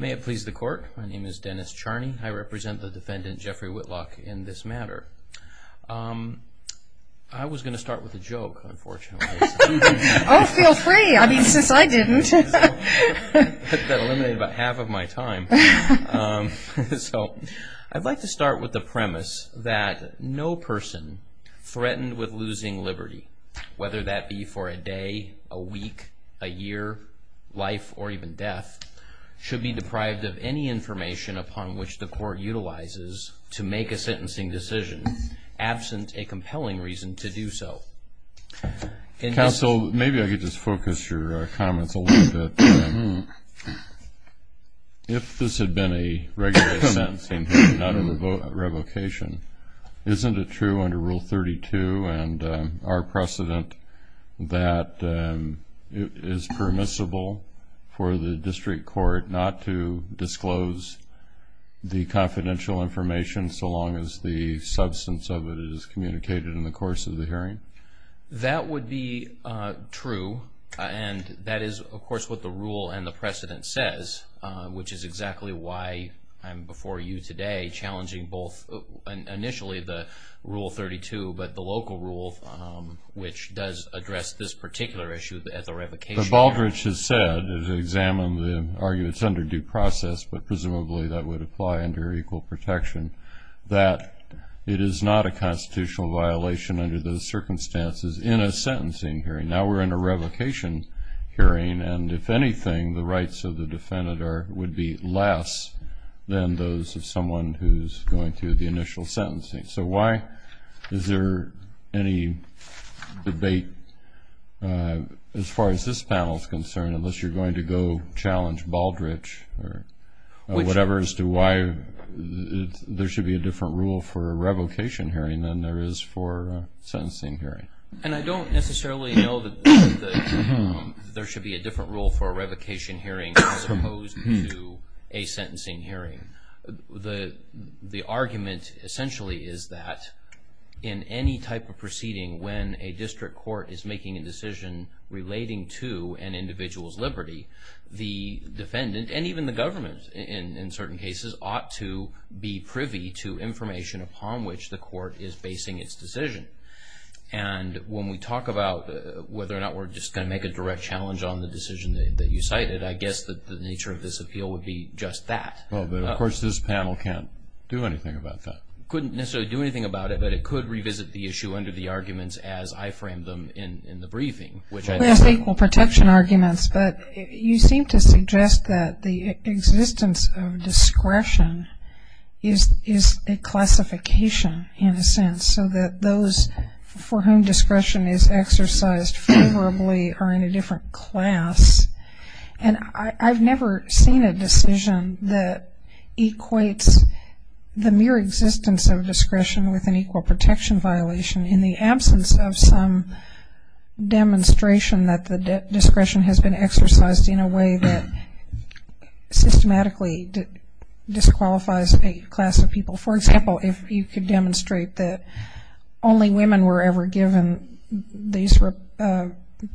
May it please the court. My name is Dennis Charney. I represent the defendant, Jeffrey Whitlock, in this matter. I was going to start with a joke, unfortunately. Oh, feel free. I mean, since I didn't. That eliminated about half of my time. I'd like to start with the premise that no person threatened with losing liberty, whether that be for a day, a week, a year, life, or even death, should be deprived of any information upon which the court utilizes to make a sentencing decision absent a compelling reason to do so. Counsel, maybe I could just focus your comments a little bit. If this had been a regular sentencing, not a revocation, isn't it true under Rule 32 and our precedent that it is permissible for the district court not to disclose the confidential information so long as the substance of it is communicated in the course of the hearing? That would be true, and that is, of course, what the rule and the precedent says, which is exactly why I'm before you today challenging both initially the Rule 32, but the local rule, which does address this particular issue at the revocation hearing. But Baldrige has said, as examined, argued it's under due process, but presumably that would apply under equal protection, that it is not a constitutional violation under those circumstances in a sentencing hearing. Now we're in a revocation hearing, and if anything, the rights of the defendant would be less than those of someone who's going through the initial sentencing. So why is there any debate as far as this panel is concerned, unless you're going to go challenge Baldrige or whatever, as to why there should be a different rule for a revocation hearing than there is for a sentencing hearing? And I don't necessarily know that there should be a different rule for a revocation hearing as opposed to a sentencing hearing. The argument essentially is that in any type of proceeding, when a district court is making a decision relating to an individual's liberty, the defendant, and even the government in certain cases, ought to be privy to information upon which the court is basing its decision. And when we talk about whether or not we're just going to make a direct challenge on the decision that you cited, I guess that the nature of this appeal would be just that. Well, but of course this panel can't do anything about that. It couldn't necessarily do anything about it, but it could revisit the issue under the arguments as I framed them in the briefing. Well, it's the equal protection arguments, but you seem to suggest that the existence of discretion is a classification in a sense, so that those for whom discretion is exercised favorably are in a different class. And I've never seen a decision that equates the mere existence of discretion with an equal protection violation in the absence of some demonstration that the discretion has been exercised in a way that systematically disqualifies a class of people. For example, if you could demonstrate that only women were ever given these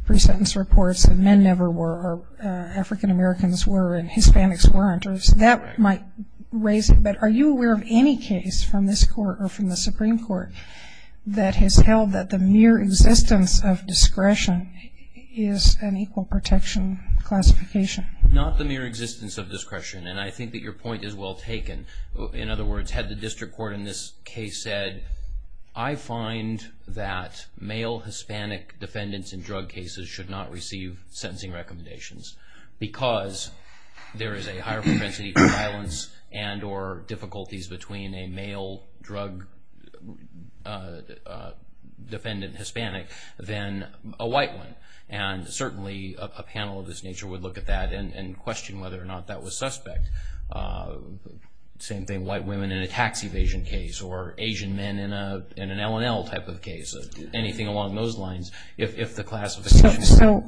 pre-sentence reports and men never were or African-Americans were and Hispanics weren't, that might raise it. But are you aware of any case from this Court or from the Supreme Court that has held that the mere existence of discretion is an equal protection classification? Not the mere existence of discretion, and I think that your point is well taken. In other words, had the district court in this case said, I find that male Hispanic defendants in drug cases should not receive sentencing recommendations because there is a higher propensity for violence and or difficulties between a male drug defendant Hispanic than a white one. And certainly a panel of this nature would look at that and question whether or not that was suspect. Same thing, white women in a tax evasion case or Asian men in an L&L type of case, anything along those lines if the classification. So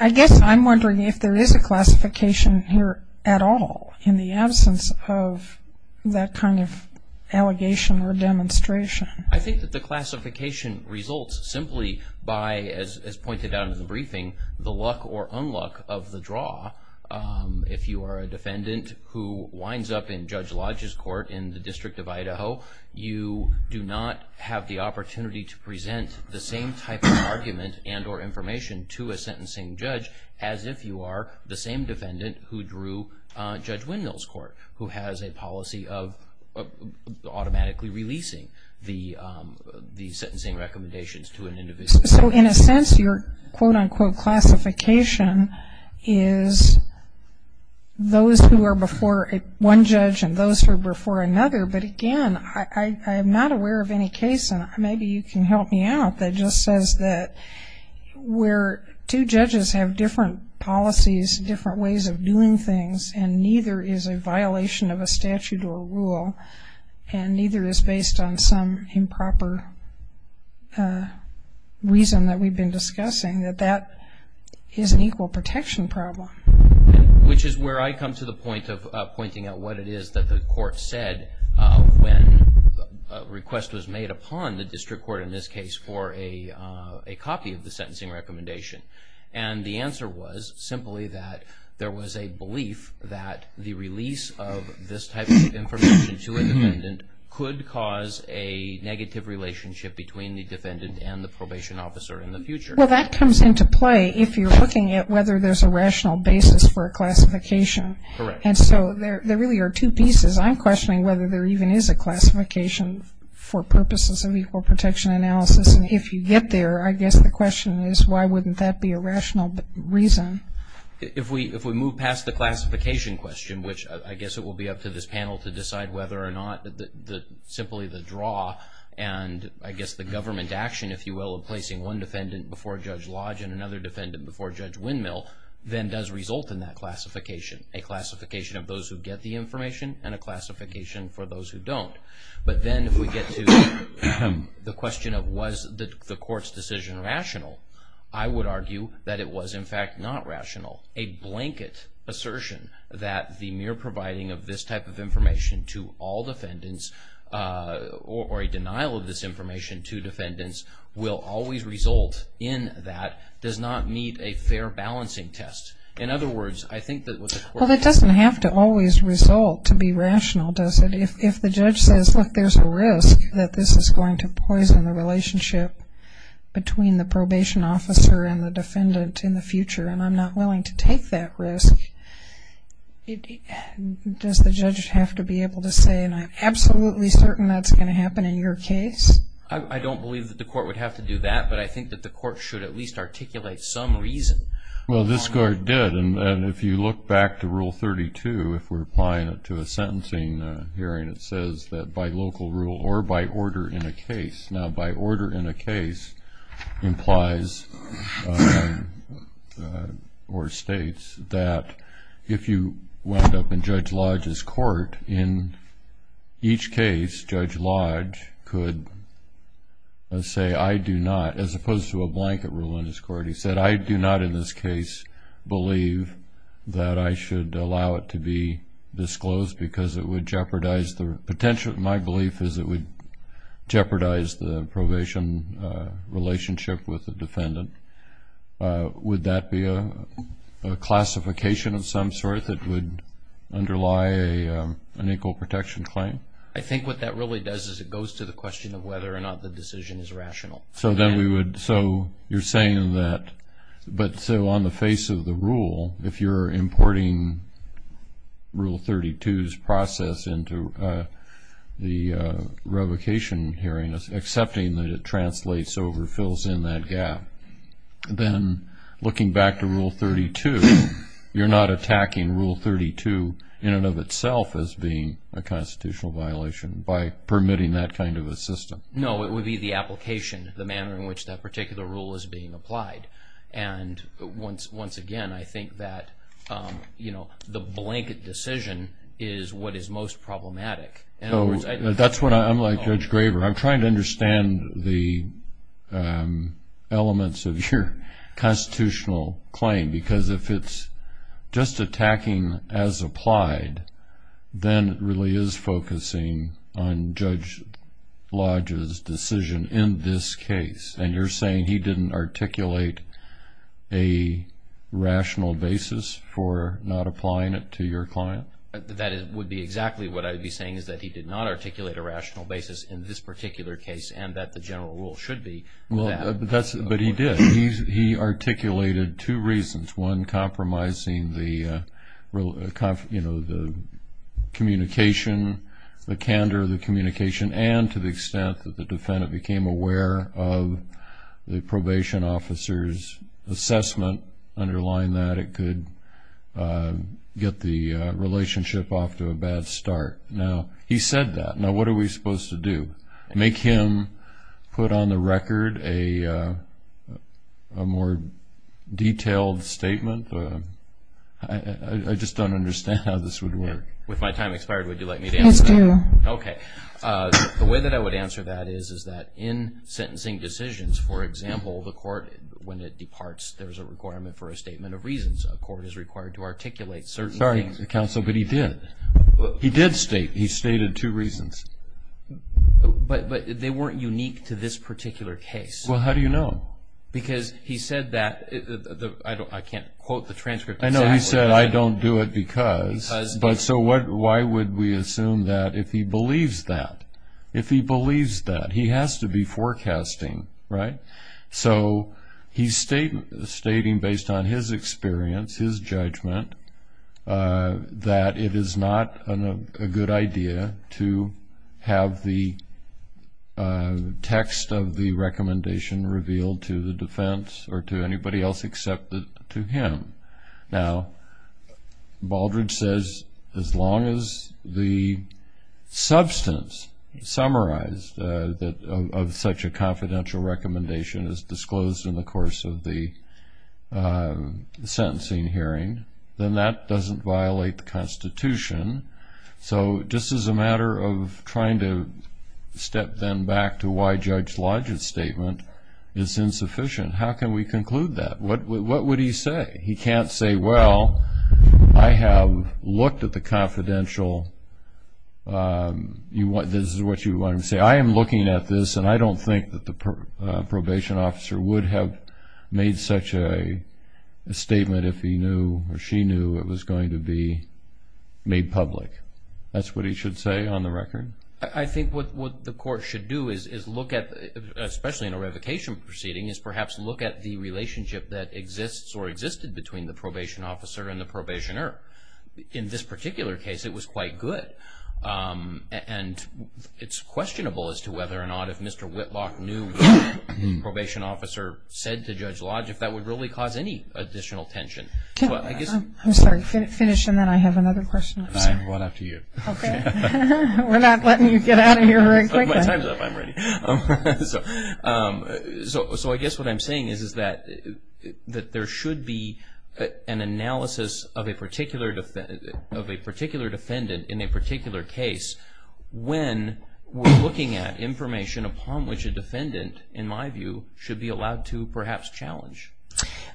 I guess I'm wondering if there is a classification here at all in the absence of that kind of allegation or demonstration. I think that the classification results simply by, as pointed out in the briefing, the luck or unluck of the draw. If you are a defendant who winds up in Judge Lodge's court in the District of Idaho, you do not have the opportunity to present the same type of argument and or information to a sentencing judge as if you are the same defendant who drew Judge Windmill's court, who has a policy of automatically releasing the sentencing recommendations to an individual. So in a sense, your quote-unquote classification is those who are before one judge and those who are before another. But again, I am not aware of any case, and maybe you can help me out, that just says that where two judges have different policies, different ways of doing things, and neither is a violation of a statute or a rule, and neither is based on some improper reason that we've been discussing, that that is an equal protection problem. Which is where I come to the point of pointing out what it is that the court said when a request was made upon the district court in this case for a copy of the sentencing recommendation. And the answer was simply that there was a belief that the release of this type of information to a defendant could cause a negative relationship between the defendant and the probation officer in the future. Well, that comes into play if you're looking at whether there's a rational basis for a classification. Correct. And so there really are two pieces. I'm questioning whether there even is a classification for purposes of equal protection analysis. If you get there, I guess the question is why wouldn't that be a rational reason? If we move past the classification question, which I guess it will be up to this panel to decide whether or not simply the draw, and I guess the government action, if you will, of placing one defendant before Judge Lodge and another defendant before Judge Windmill, then does result in that classification. A classification of those who get the information and a classification for those who don't. But then if we get to the question of was the court's decision rational, I would argue that it was in fact not rational. A blanket assertion that the mere providing of this type of information to all defendants or a denial of this information to defendants will always result in that does not meet a fair balancing test. In other words, I think that what the court... Well, that doesn't have to always result to be rational, does it? If the judge says, look, there's a risk that this is going to poison the relationship between the probation officer and the defendant in the future, and I'm not willing to take that risk, does the judge have to be able to say, and I'm absolutely certain that's going to happen in your case? I don't believe that the court would have to do that, but I think that the court should at least articulate some reason. Well, this court did, and if you look back to Rule 32, if we're applying it to a sentencing hearing, it says that by local rule or by order in a case. Now, by order in a case implies or states that if you wound up in Judge Lodge's court, in each case Judge Lodge could say, I do not, as opposed to a blanket rule in his court. He said, I do not in this case believe that I should allow it to be disclosed because it would jeopardize the potential. My belief is it would jeopardize the probation relationship with the defendant. Would that be a classification of some sort that would underlie an equal protection claim? I think what that really does is it goes to the question of whether or not the decision is rational. So you're saying that, but so on the face of the rule, if you're importing Rule 32's process into the revocation hearing, accepting that it translates over, fills in that gap, then looking back to Rule 32, you're not attacking Rule 32 in and of itself as being a constitutional violation by permitting that kind of a system? No, it would be the application, the manner in which that particular rule is being applied. And once again, I think that the blanket decision is what is most problematic. I'm like Judge Graber. I'm trying to understand the elements of your constitutional claim because if it's just attacking as applied, then it really is focusing on Judge Lodge's decision in this case. And you're saying he didn't articulate a rational basis for not applying it to your client? That would be exactly what I would be saying, is that he did not articulate a rational basis in this particular case and that the general rule should be that. But he did. He articulated two reasons, one, compromising the communication, the candor of the communication, and to the extent that the defendant became aware of the probation officer's assessment, underlying that it could get the relationship off to a bad start. Now, he said that. Now, what are we supposed to do? Make him put on the record a more detailed statement? I just don't understand how this would work. With my time expired, would you like me to answer that? Yes, please. Okay. The way that I would answer that is that in sentencing decisions, for example, the court, when it departs, there's a requirement for a statement of reasons. A court is required to articulate certain things. Sorry, counsel, but he did. He did state it. He stated two reasons. But they weren't unique to this particular case. Well, how do you know? Because he said that. I can't quote the transcript exactly. I know. He said, I don't do it because. So why would we assume that if he believes that? If he believes that. He has to be forecasting, right? So he's stating based on his experience, his judgment, that it is not a good idea to have the text of the recommendation revealed to the defense or to anybody else except to him. Now, Baldrige says as long as the substance summarized of such a confidential recommendation is disclosed in the course of the sentencing hearing, then that doesn't violate the Constitution. So just as a matter of trying to step then back to why Judge Lodge's statement is insufficient, how can we conclude that? What would he say? He can't say, well, I have looked at the confidential. This is what you want him to say. I am looking at this, and I don't think that the probation officer would have made such a statement if he knew or she knew it was going to be made public. That's what he should say on the record? I think what the court should do, especially in a revocation proceeding, is perhaps look at the relationship that exists or existed between the probation officer and the probationer. In this particular case, it was quite good. And it's questionable as to whether or not if Mr. Whitlock knew what the probation officer said to Judge Lodge, if that would really cause any additional tension. I'm sorry. Finish, and then I have another question. I have one after you. Okay. We're not letting you get out of here very quickly. My time's up. I'm ready. So I guess what I'm saying is that there should be an analysis of a particular defendant in a particular case when we're looking at information upon which a defendant, in my view, should be allowed to perhaps challenge.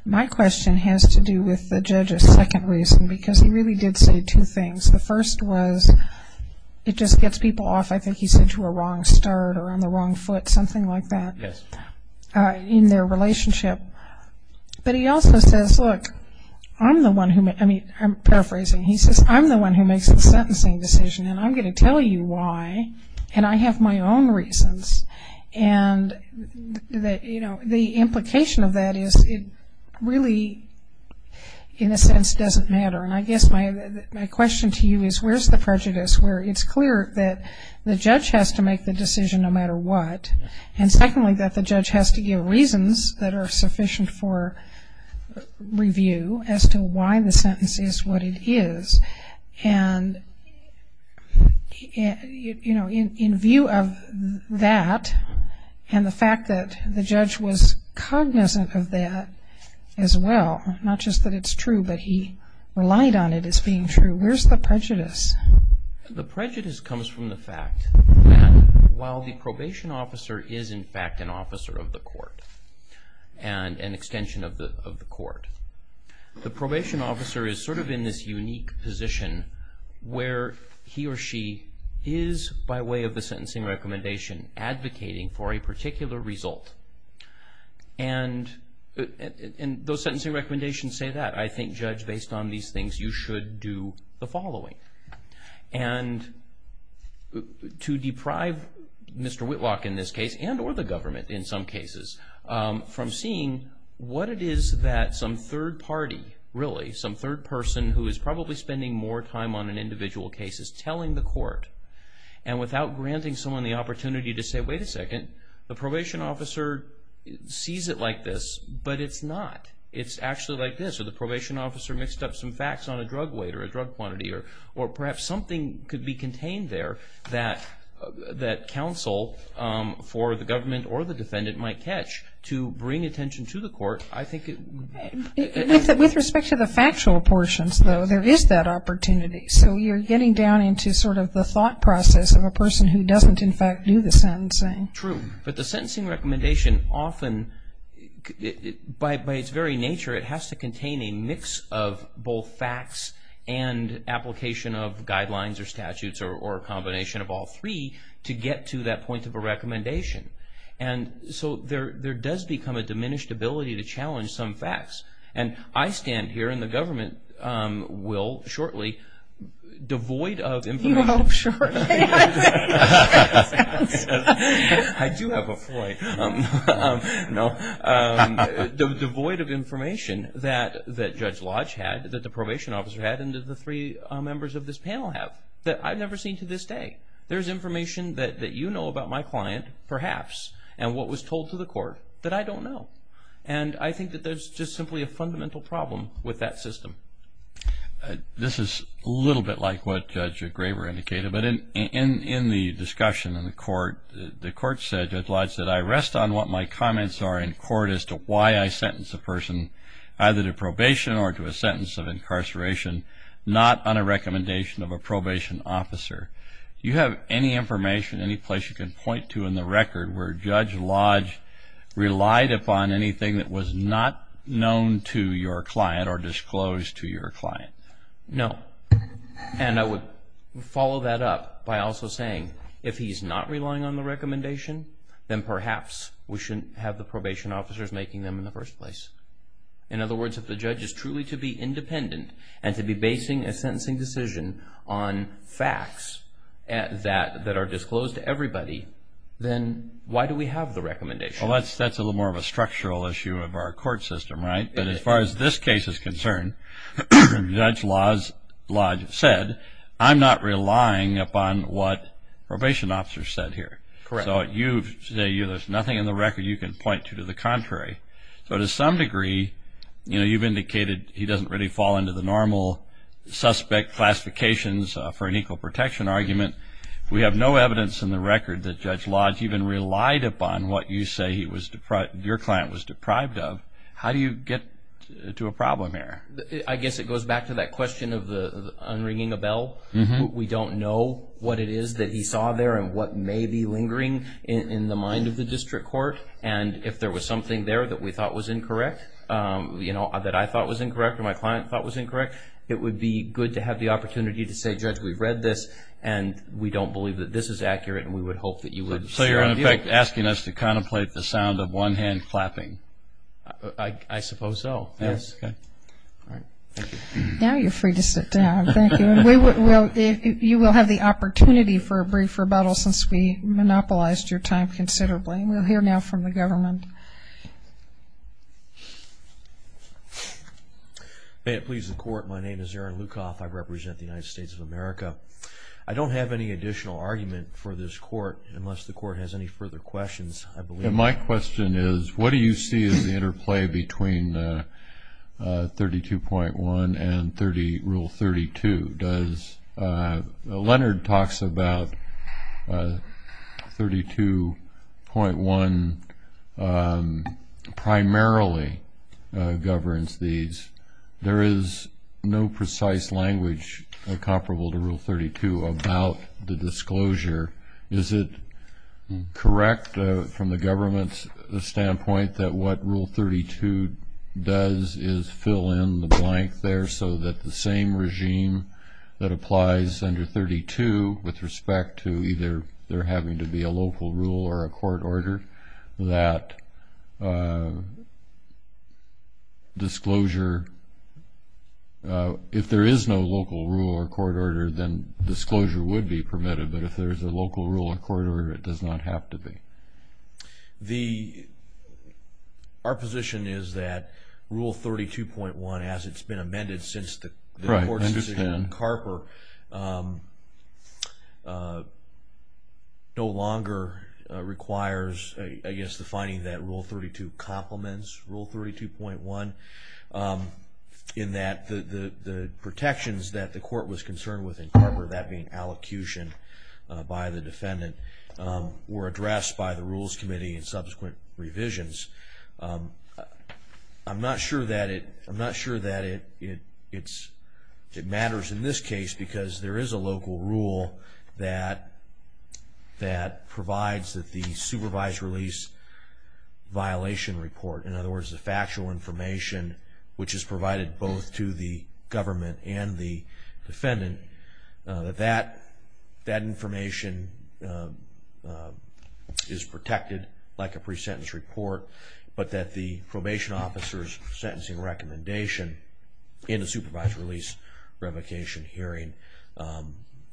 My question has to do with the judge's second reason, because he really did say two things. The first was it just gets people off, I think he said, to a wrong start or on the wrong foot, something like that. Yes. In their relationship. But he also says, look, I'm the one who makes, I mean, I'm paraphrasing. He says, I'm the one who makes the sentencing decision, and I'm going to tell you why, and I have my own reasons. And, you know, the implication of that is it really, in a sense, doesn't matter. And I guess my question to you is where's the prejudice where it's clear that the judge has to make the decision no matter what, and secondly, that the judge has to give reasons that are sufficient for review as to why the sentence is. And, you know, in view of that and the fact that the judge was cognizant of that as well, not just that it's true, but he relied on it as being true, where's the prejudice? The prejudice comes from the fact that while the probation officer is, in fact, an officer of the court and an extension of the court, the probation officer is sort of in this unique position where he or she is, by way of the sentencing recommendation, advocating for a particular result. And those sentencing recommendations say that. I think, Judge, based on these things, you should do the following. And to deprive Mr. Whitlock in this case, and or the government in some cases, from seeing what it is that some third party, really, some third person who is probably spending more time on an individual case is telling the court, and without granting someone the opportunity to say, wait a second, the probation officer sees it like this, but it's not. It's actually like this. Or the probation officer mixed up some facts on a drug weight or a drug quantity, or perhaps something could be contained there that counsel for the government or the defendant might catch to bring attention to the court. With respect to the factual portions, though, there is that opportunity. So you're getting down into sort of the thought process of a person who doesn't, in fact, do the sentencing. True. But the sentencing recommendation often, by its very nature, it has to contain a mix of both facts and application of guidelines or statutes or a combination of all three to get to that point of a recommendation. And so there does become a diminished ability to challenge some facts. And I stand here, and the government will shortly, devoid of information. You hope shortly. I do have a ploy. No. Devoid of information that Judge Lodge had, that the probation officer had, and that the three members of this panel have, that I've never seen to this day. There's information that you know about my client, perhaps, and what was told to the court that I don't know. And I think that there's just simply a fundamental problem with that system. This is a little bit like what Judge Graber indicated. But in the discussion in the court, the court said, Judge Lodge said, I rest on what my comments are in court as to why I sentence a person either to not on a recommendation of a probation officer. Do you have any information, any place you can point to in the record, where Judge Lodge relied upon anything that was not known to your client or disclosed to your client? No. And I would follow that up by also saying, if he's not relying on the recommendation, then perhaps we shouldn't have the probation officers making them in the first place. In other words, if the judge is truly to be independent and to be basing a sentencing decision on facts that are disclosed to everybody, then why do we have the recommendation? Well, that's a little more of a structural issue of our court system, right? But as far as this case is concerned, Judge Lodge said, I'm not relying upon what probation officers said here. Correct. So there's nothing in the record you can point to to the contrary. So to some degree, you know, you've indicated he doesn't really fall into the normal suspect classifications for an equal protection argument. We have no evidence in the record that Judge Lodge even relied upon what you say your client was deprived of. How do you get to a problem here? I guess it goes back to that question of the unringing a bell. We don't know what it is that he saw there and what may be lingering in the mind of the district court. And if there was something there that we thought was incorrect, you know, that I thought was incorrect or my client thought was incorrect, it would be good to have the opportunity to say, Judge, we've read this, and we don't believe that this is accurate, and we would hope that you would. So you're, in effect, asking us to contemplate the sound of one hand clapping. I suppose so, yes. Okay. All right. Thank you. Now you're free to sit down. Thank you. You will have the opportunity for a brief rebuttal since we monopolized your time considerably. We'll hear now from the government. May it please the Court, my name is Aaron Lukoff. I represent the United States of America. I don't have any additional argument for this Court unless the Court has any further questions, I believe. My question is, what do you see as the interplay between 32.1 and Rule 32? Leonard talks about 32.1 primarily governs these. There is no precise language comparable to Rule 32 about the disclosure. Is it correct from the government's standpoint that what Rule 32 does is fill in the blank there so that the same regime that applies under 32 with respect to either there having to be a local rule or a court order, that disclosure, if there is no local rule or court order, then disclosure would be permitted. But if there is a local rule or court order, it does not have to be. Our position is that Rule 32.1, as it's been amended since the Court's decision in Carper, no longer requires, I guess, the finding that Rule 32 complements Rule 32.1 in that the protections that the Court was concerned with in Carper, that being allocution by the defendant, were addressed by the Rules Committee in subsequent revisions. I'm not sure that it matters in this case because there is a local rule that provides that the supervised release violation report, in other words the factual information which is provided both to the government and the defendant, that that information is protected like a pre-sentence report, but that the probation officer's sentencing recommendation in a supervised release revocation hearing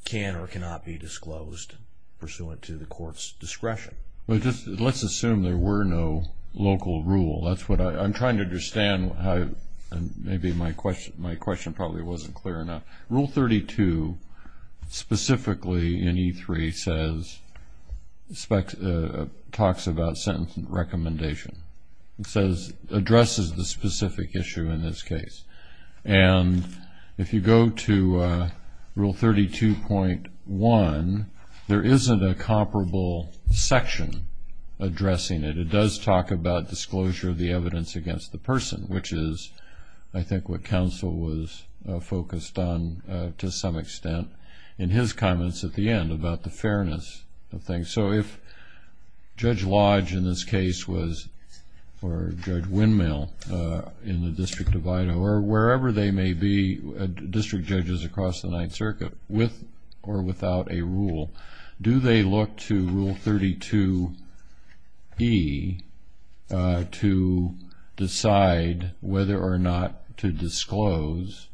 can or cannot be disclosed pursuant to the Court's discretion. Let's assume there were no local rule. That's what I'm trying to understand. Maybe my question probably wasn't clear enough. Rule 32 specifically in E3 talks about sentencing recommendation. It addresses the specific issue in this case. And if you go to Rule 32.1, there isn't a comparable section addressing it. But it does talk about disclosure of the evidence against the person, which is I think what counsel was focused on to some extent in his comments at the end about the fairness of things. So if Judge Lodge in this case was, or Judge Windmill in the District of Idaho, or wherever they may be, district judges across the Ninth Circuit, with or without a rule, do they look to Rule 32E to decide whether or not to disclose,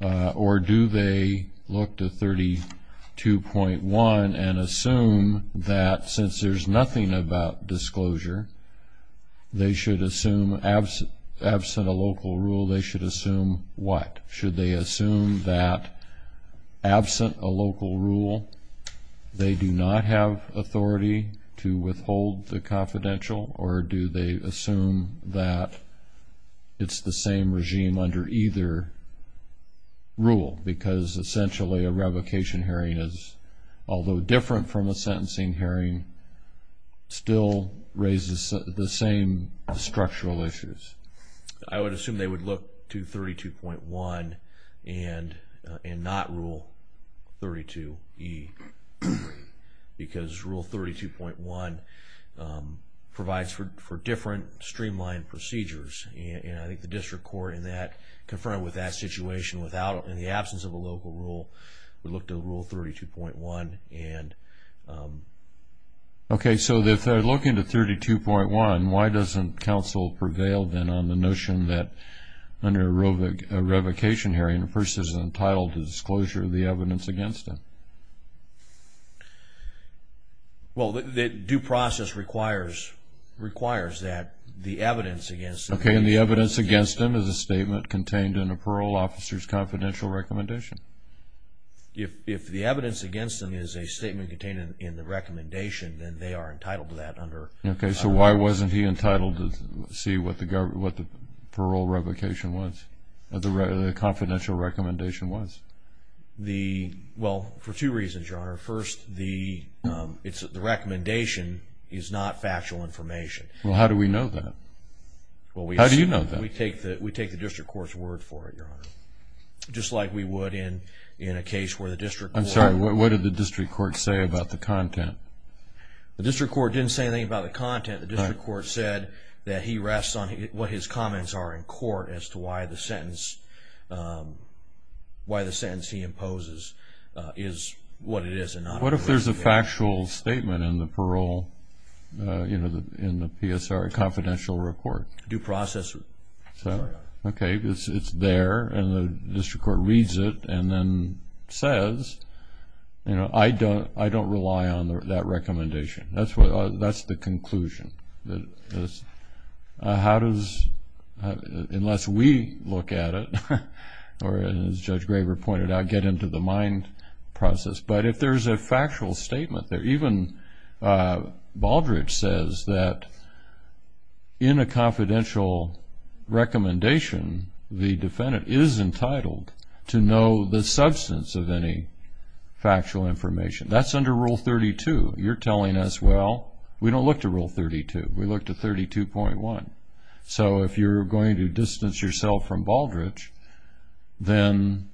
or do they look to 32.1 and assume that since there's nothing about disclosure, they should assume absent a local rule, they should assume what? Should they assume that absent a local rule, they do not have authority to withhold the confidential, or do they assume that it's the same regime under either rule? Because essentially a revocation hearing is, although different from a sentencing hearing, still raises the same structural issues. I would assume they would look to 32.1 and not Rule 32E, because Rule 32.1 provides for different streamlined procedures. And I think the district court in that, confronted with that situation without, in the absence of a local rule, would look to Rule 32.1. Okay, so if they're looking to 32.1, why doesn't counsel prevail then on the notion that under a revocation hearing, a person is entitled to disclosure of the evidence against them? Well, the due process requires that the evidence against them... Okay, and the evidence against them is a statement contained in a parole officer's confidential recommendation. If the evidence against them is a statement contained in the recommendation, then they are entitled to that under... Okay, so why wasn't he entitled to see what the parole revocation was, or the confidential recommendation was? Well, for two reasons, Your Honor. First, the recommendation is not factual information. Well, how do we know that? How do you know that? We take the district court's word for it, Your Honor. Just like we would in a case where the district court... I'm sorry, what did the district court say about the content? The district court didn't say anything about the content. The district court said that he rests on what his comments are in court as to why the sentence he imposes is what it is and not... What if there's a factual statement in the parole, in the PSR, confidential report? Due process, Your Honor. Okay, it's there, and the district court reads it and then says, you know, I don't rely on that recommendation. That's the conclusion. How does...unless we look at it, or as Judge Graber pointed out, get into the mind process. But if there's a factual statement there, even Baldrige says that in a confidential recommendation, the defendant is entitled to know the substance of any factual information. That's under Rule 32. You're telling us, well, we don't look to Rule 32. We look to 32.1. So if you're going to distance yourself from Baldrige, then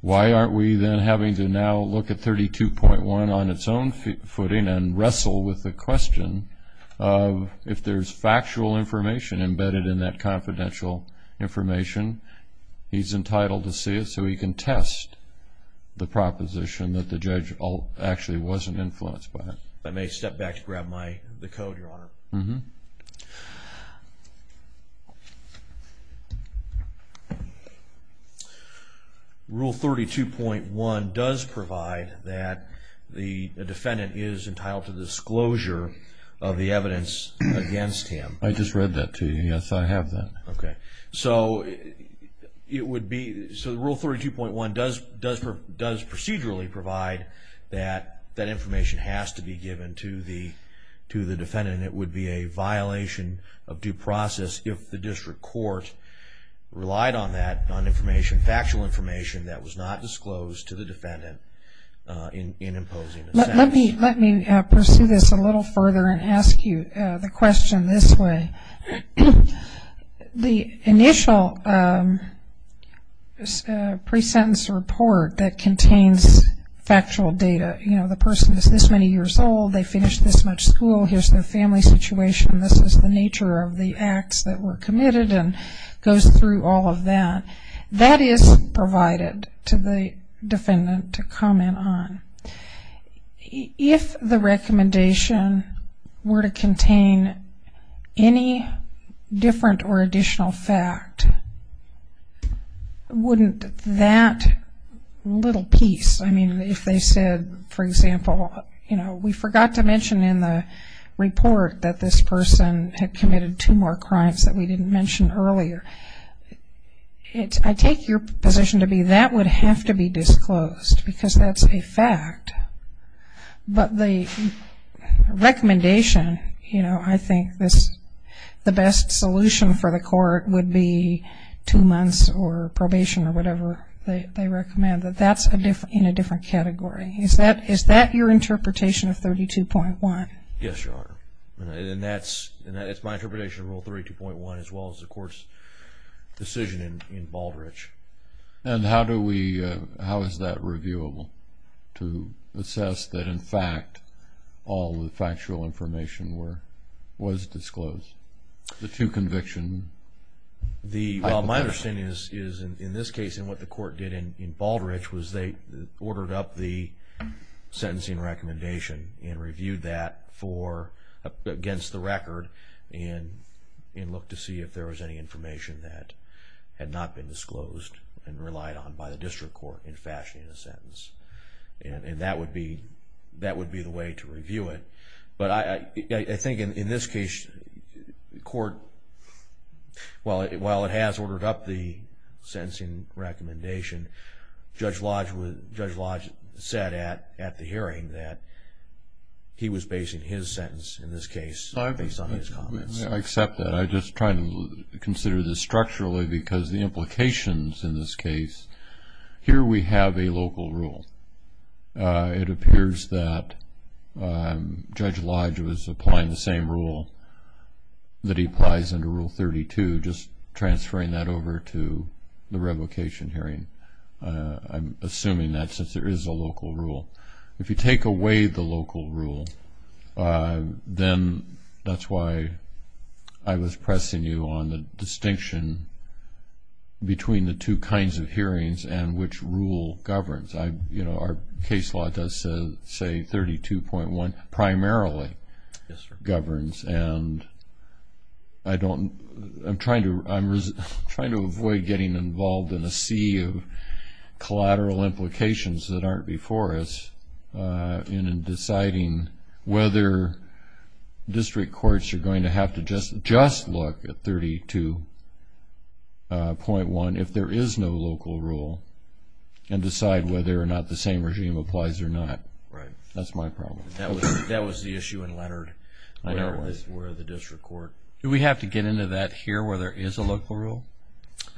why aren't we then having to now look at 32.1 on its own footing and wrestle with the question of if there's factual information embedded in that confidential information, he's entitled to see it so he can test the proposition that the judge actually wasn't influenced by it. If I may step back to grab the code, Your Honor. Rule 32.1 does provide that the defendant is entitled to disclosure of the evidence against him. I just read that to you. Yes, I have that. Okay. So it would be... So Rule 32.1 does procedurally provide that that information has to be given to the defendant, and it would be a violation of due process if the district court relied on that information, factual information, that was not disclosed to the defendant in imposing a sentence. Let me pursue this a little further and ask you the question this way. The initial pre-sentence report that contains factual data, you know, the person is this many years old, they finished this much school, here's their family situation, this is the nature of the acts that were committed and goes through all of that. That is provided to the defendant to comment on. If the recommendation were to contain any different or additional fact, wouldn't that little piece, I mean, if they said, for example, you know, you forgot to mention in the report that this person had committed two more crimes that we didn't mention earlier. I take your position to be that would have to be disclosed because that's a fact. But the recommendation, you know, I think the best solution for the court would be two months or probation or whatever they recommend. That's in a different category. Is that your interpretation of 32.1? Yes, Your Honor, and that's my interpretation of Rule 32.1 as well as the court's decision in Baldrige. And how is that reviewable to assess that, in fact, all the factual information was disclosed, the two convictions? My understanding is in this case and what the court did in Baldrige was they ordered up the sentencing recommendation and reviewed that against the record and looked to see if there was any information that had not been disclosed and relied on by the district court in fashioning a sentence. And that would be the way to review it. But I think in this case, the court, while it has ordered up the sentencing recommendation, Judge Lodge said at the hearing that he was basing his sentence in this case based on his comments. I accept that. I'm just trying to consider this structurally because the implications in this case, here we have a local rule. It appears that Judge Lodge was applying the same rule that he applies under Rule 32, just transferring that over to the revocation hearing. I'm assuming that since there is a local rule. If you take away the local rule, then that's why I was pressing you on the distinction between the two kinds of hearings and which rule governs. Our case law does say 32.1 primarily governs. And I'm trying to avoid getting involved in a sea of collateral implications that aren't before us in deciding whether district courts are going to have to just look at 32.1 if there is no local rule and decide whether or not the same regime applies or not. That's my problem. That was the issue in Leonard where the district court. Do we have to get into that here where there is a local rule?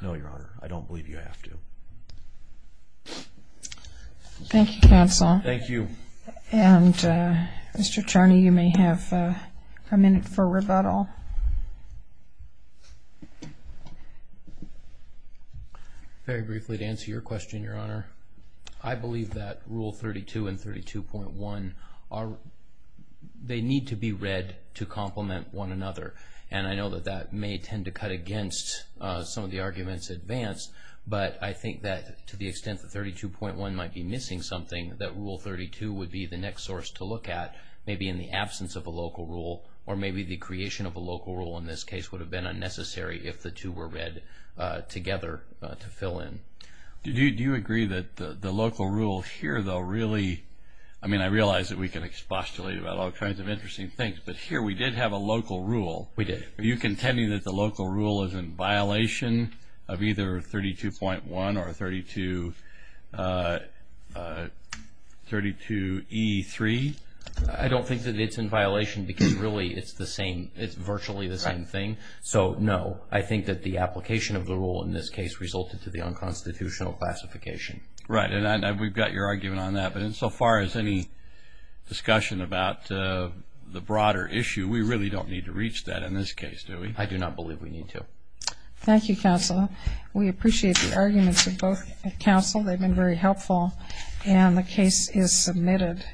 No, Your Honor. I don't believe you have to. Thank you, counsel. Thank you. And Mr. Attorney, you may have a minute for rebuttal. Very briefly, to answer your question, Your Honor, I believe that Rule 32 and 32.1, they need to be read to complement one another. And I know that that may tend to cut against some of the arguments advanced, but I think that to the extent that 32.1 might be missing something, that Rule 32 would be the next source to look at maybe in the absence of a local rule or maybe the creation of a local rule in this case would have been unnecessary if the two were read together to fill in. Do you agree that the local rule here, though, really, I mean, I realize that we can expostulate about all kinds of interesting things, but here we did have a local rule. We did. Are you contending that the local rule is in violation of either 32.1 or 32E3? I don't think that it's in violation because, really, it's virtually the same thing. So, no. I think that the application of the rule in this case resulted to the unconstitutional classification. Right. And we've got your argument on that. But insofar as any discussion about the broader issue, we really don't need to reach that in this case, do we? I do not believe we need to. Thank you, Counsel. We appreciate the arguments of both counsel. They've been very helpful. And the case is submitted.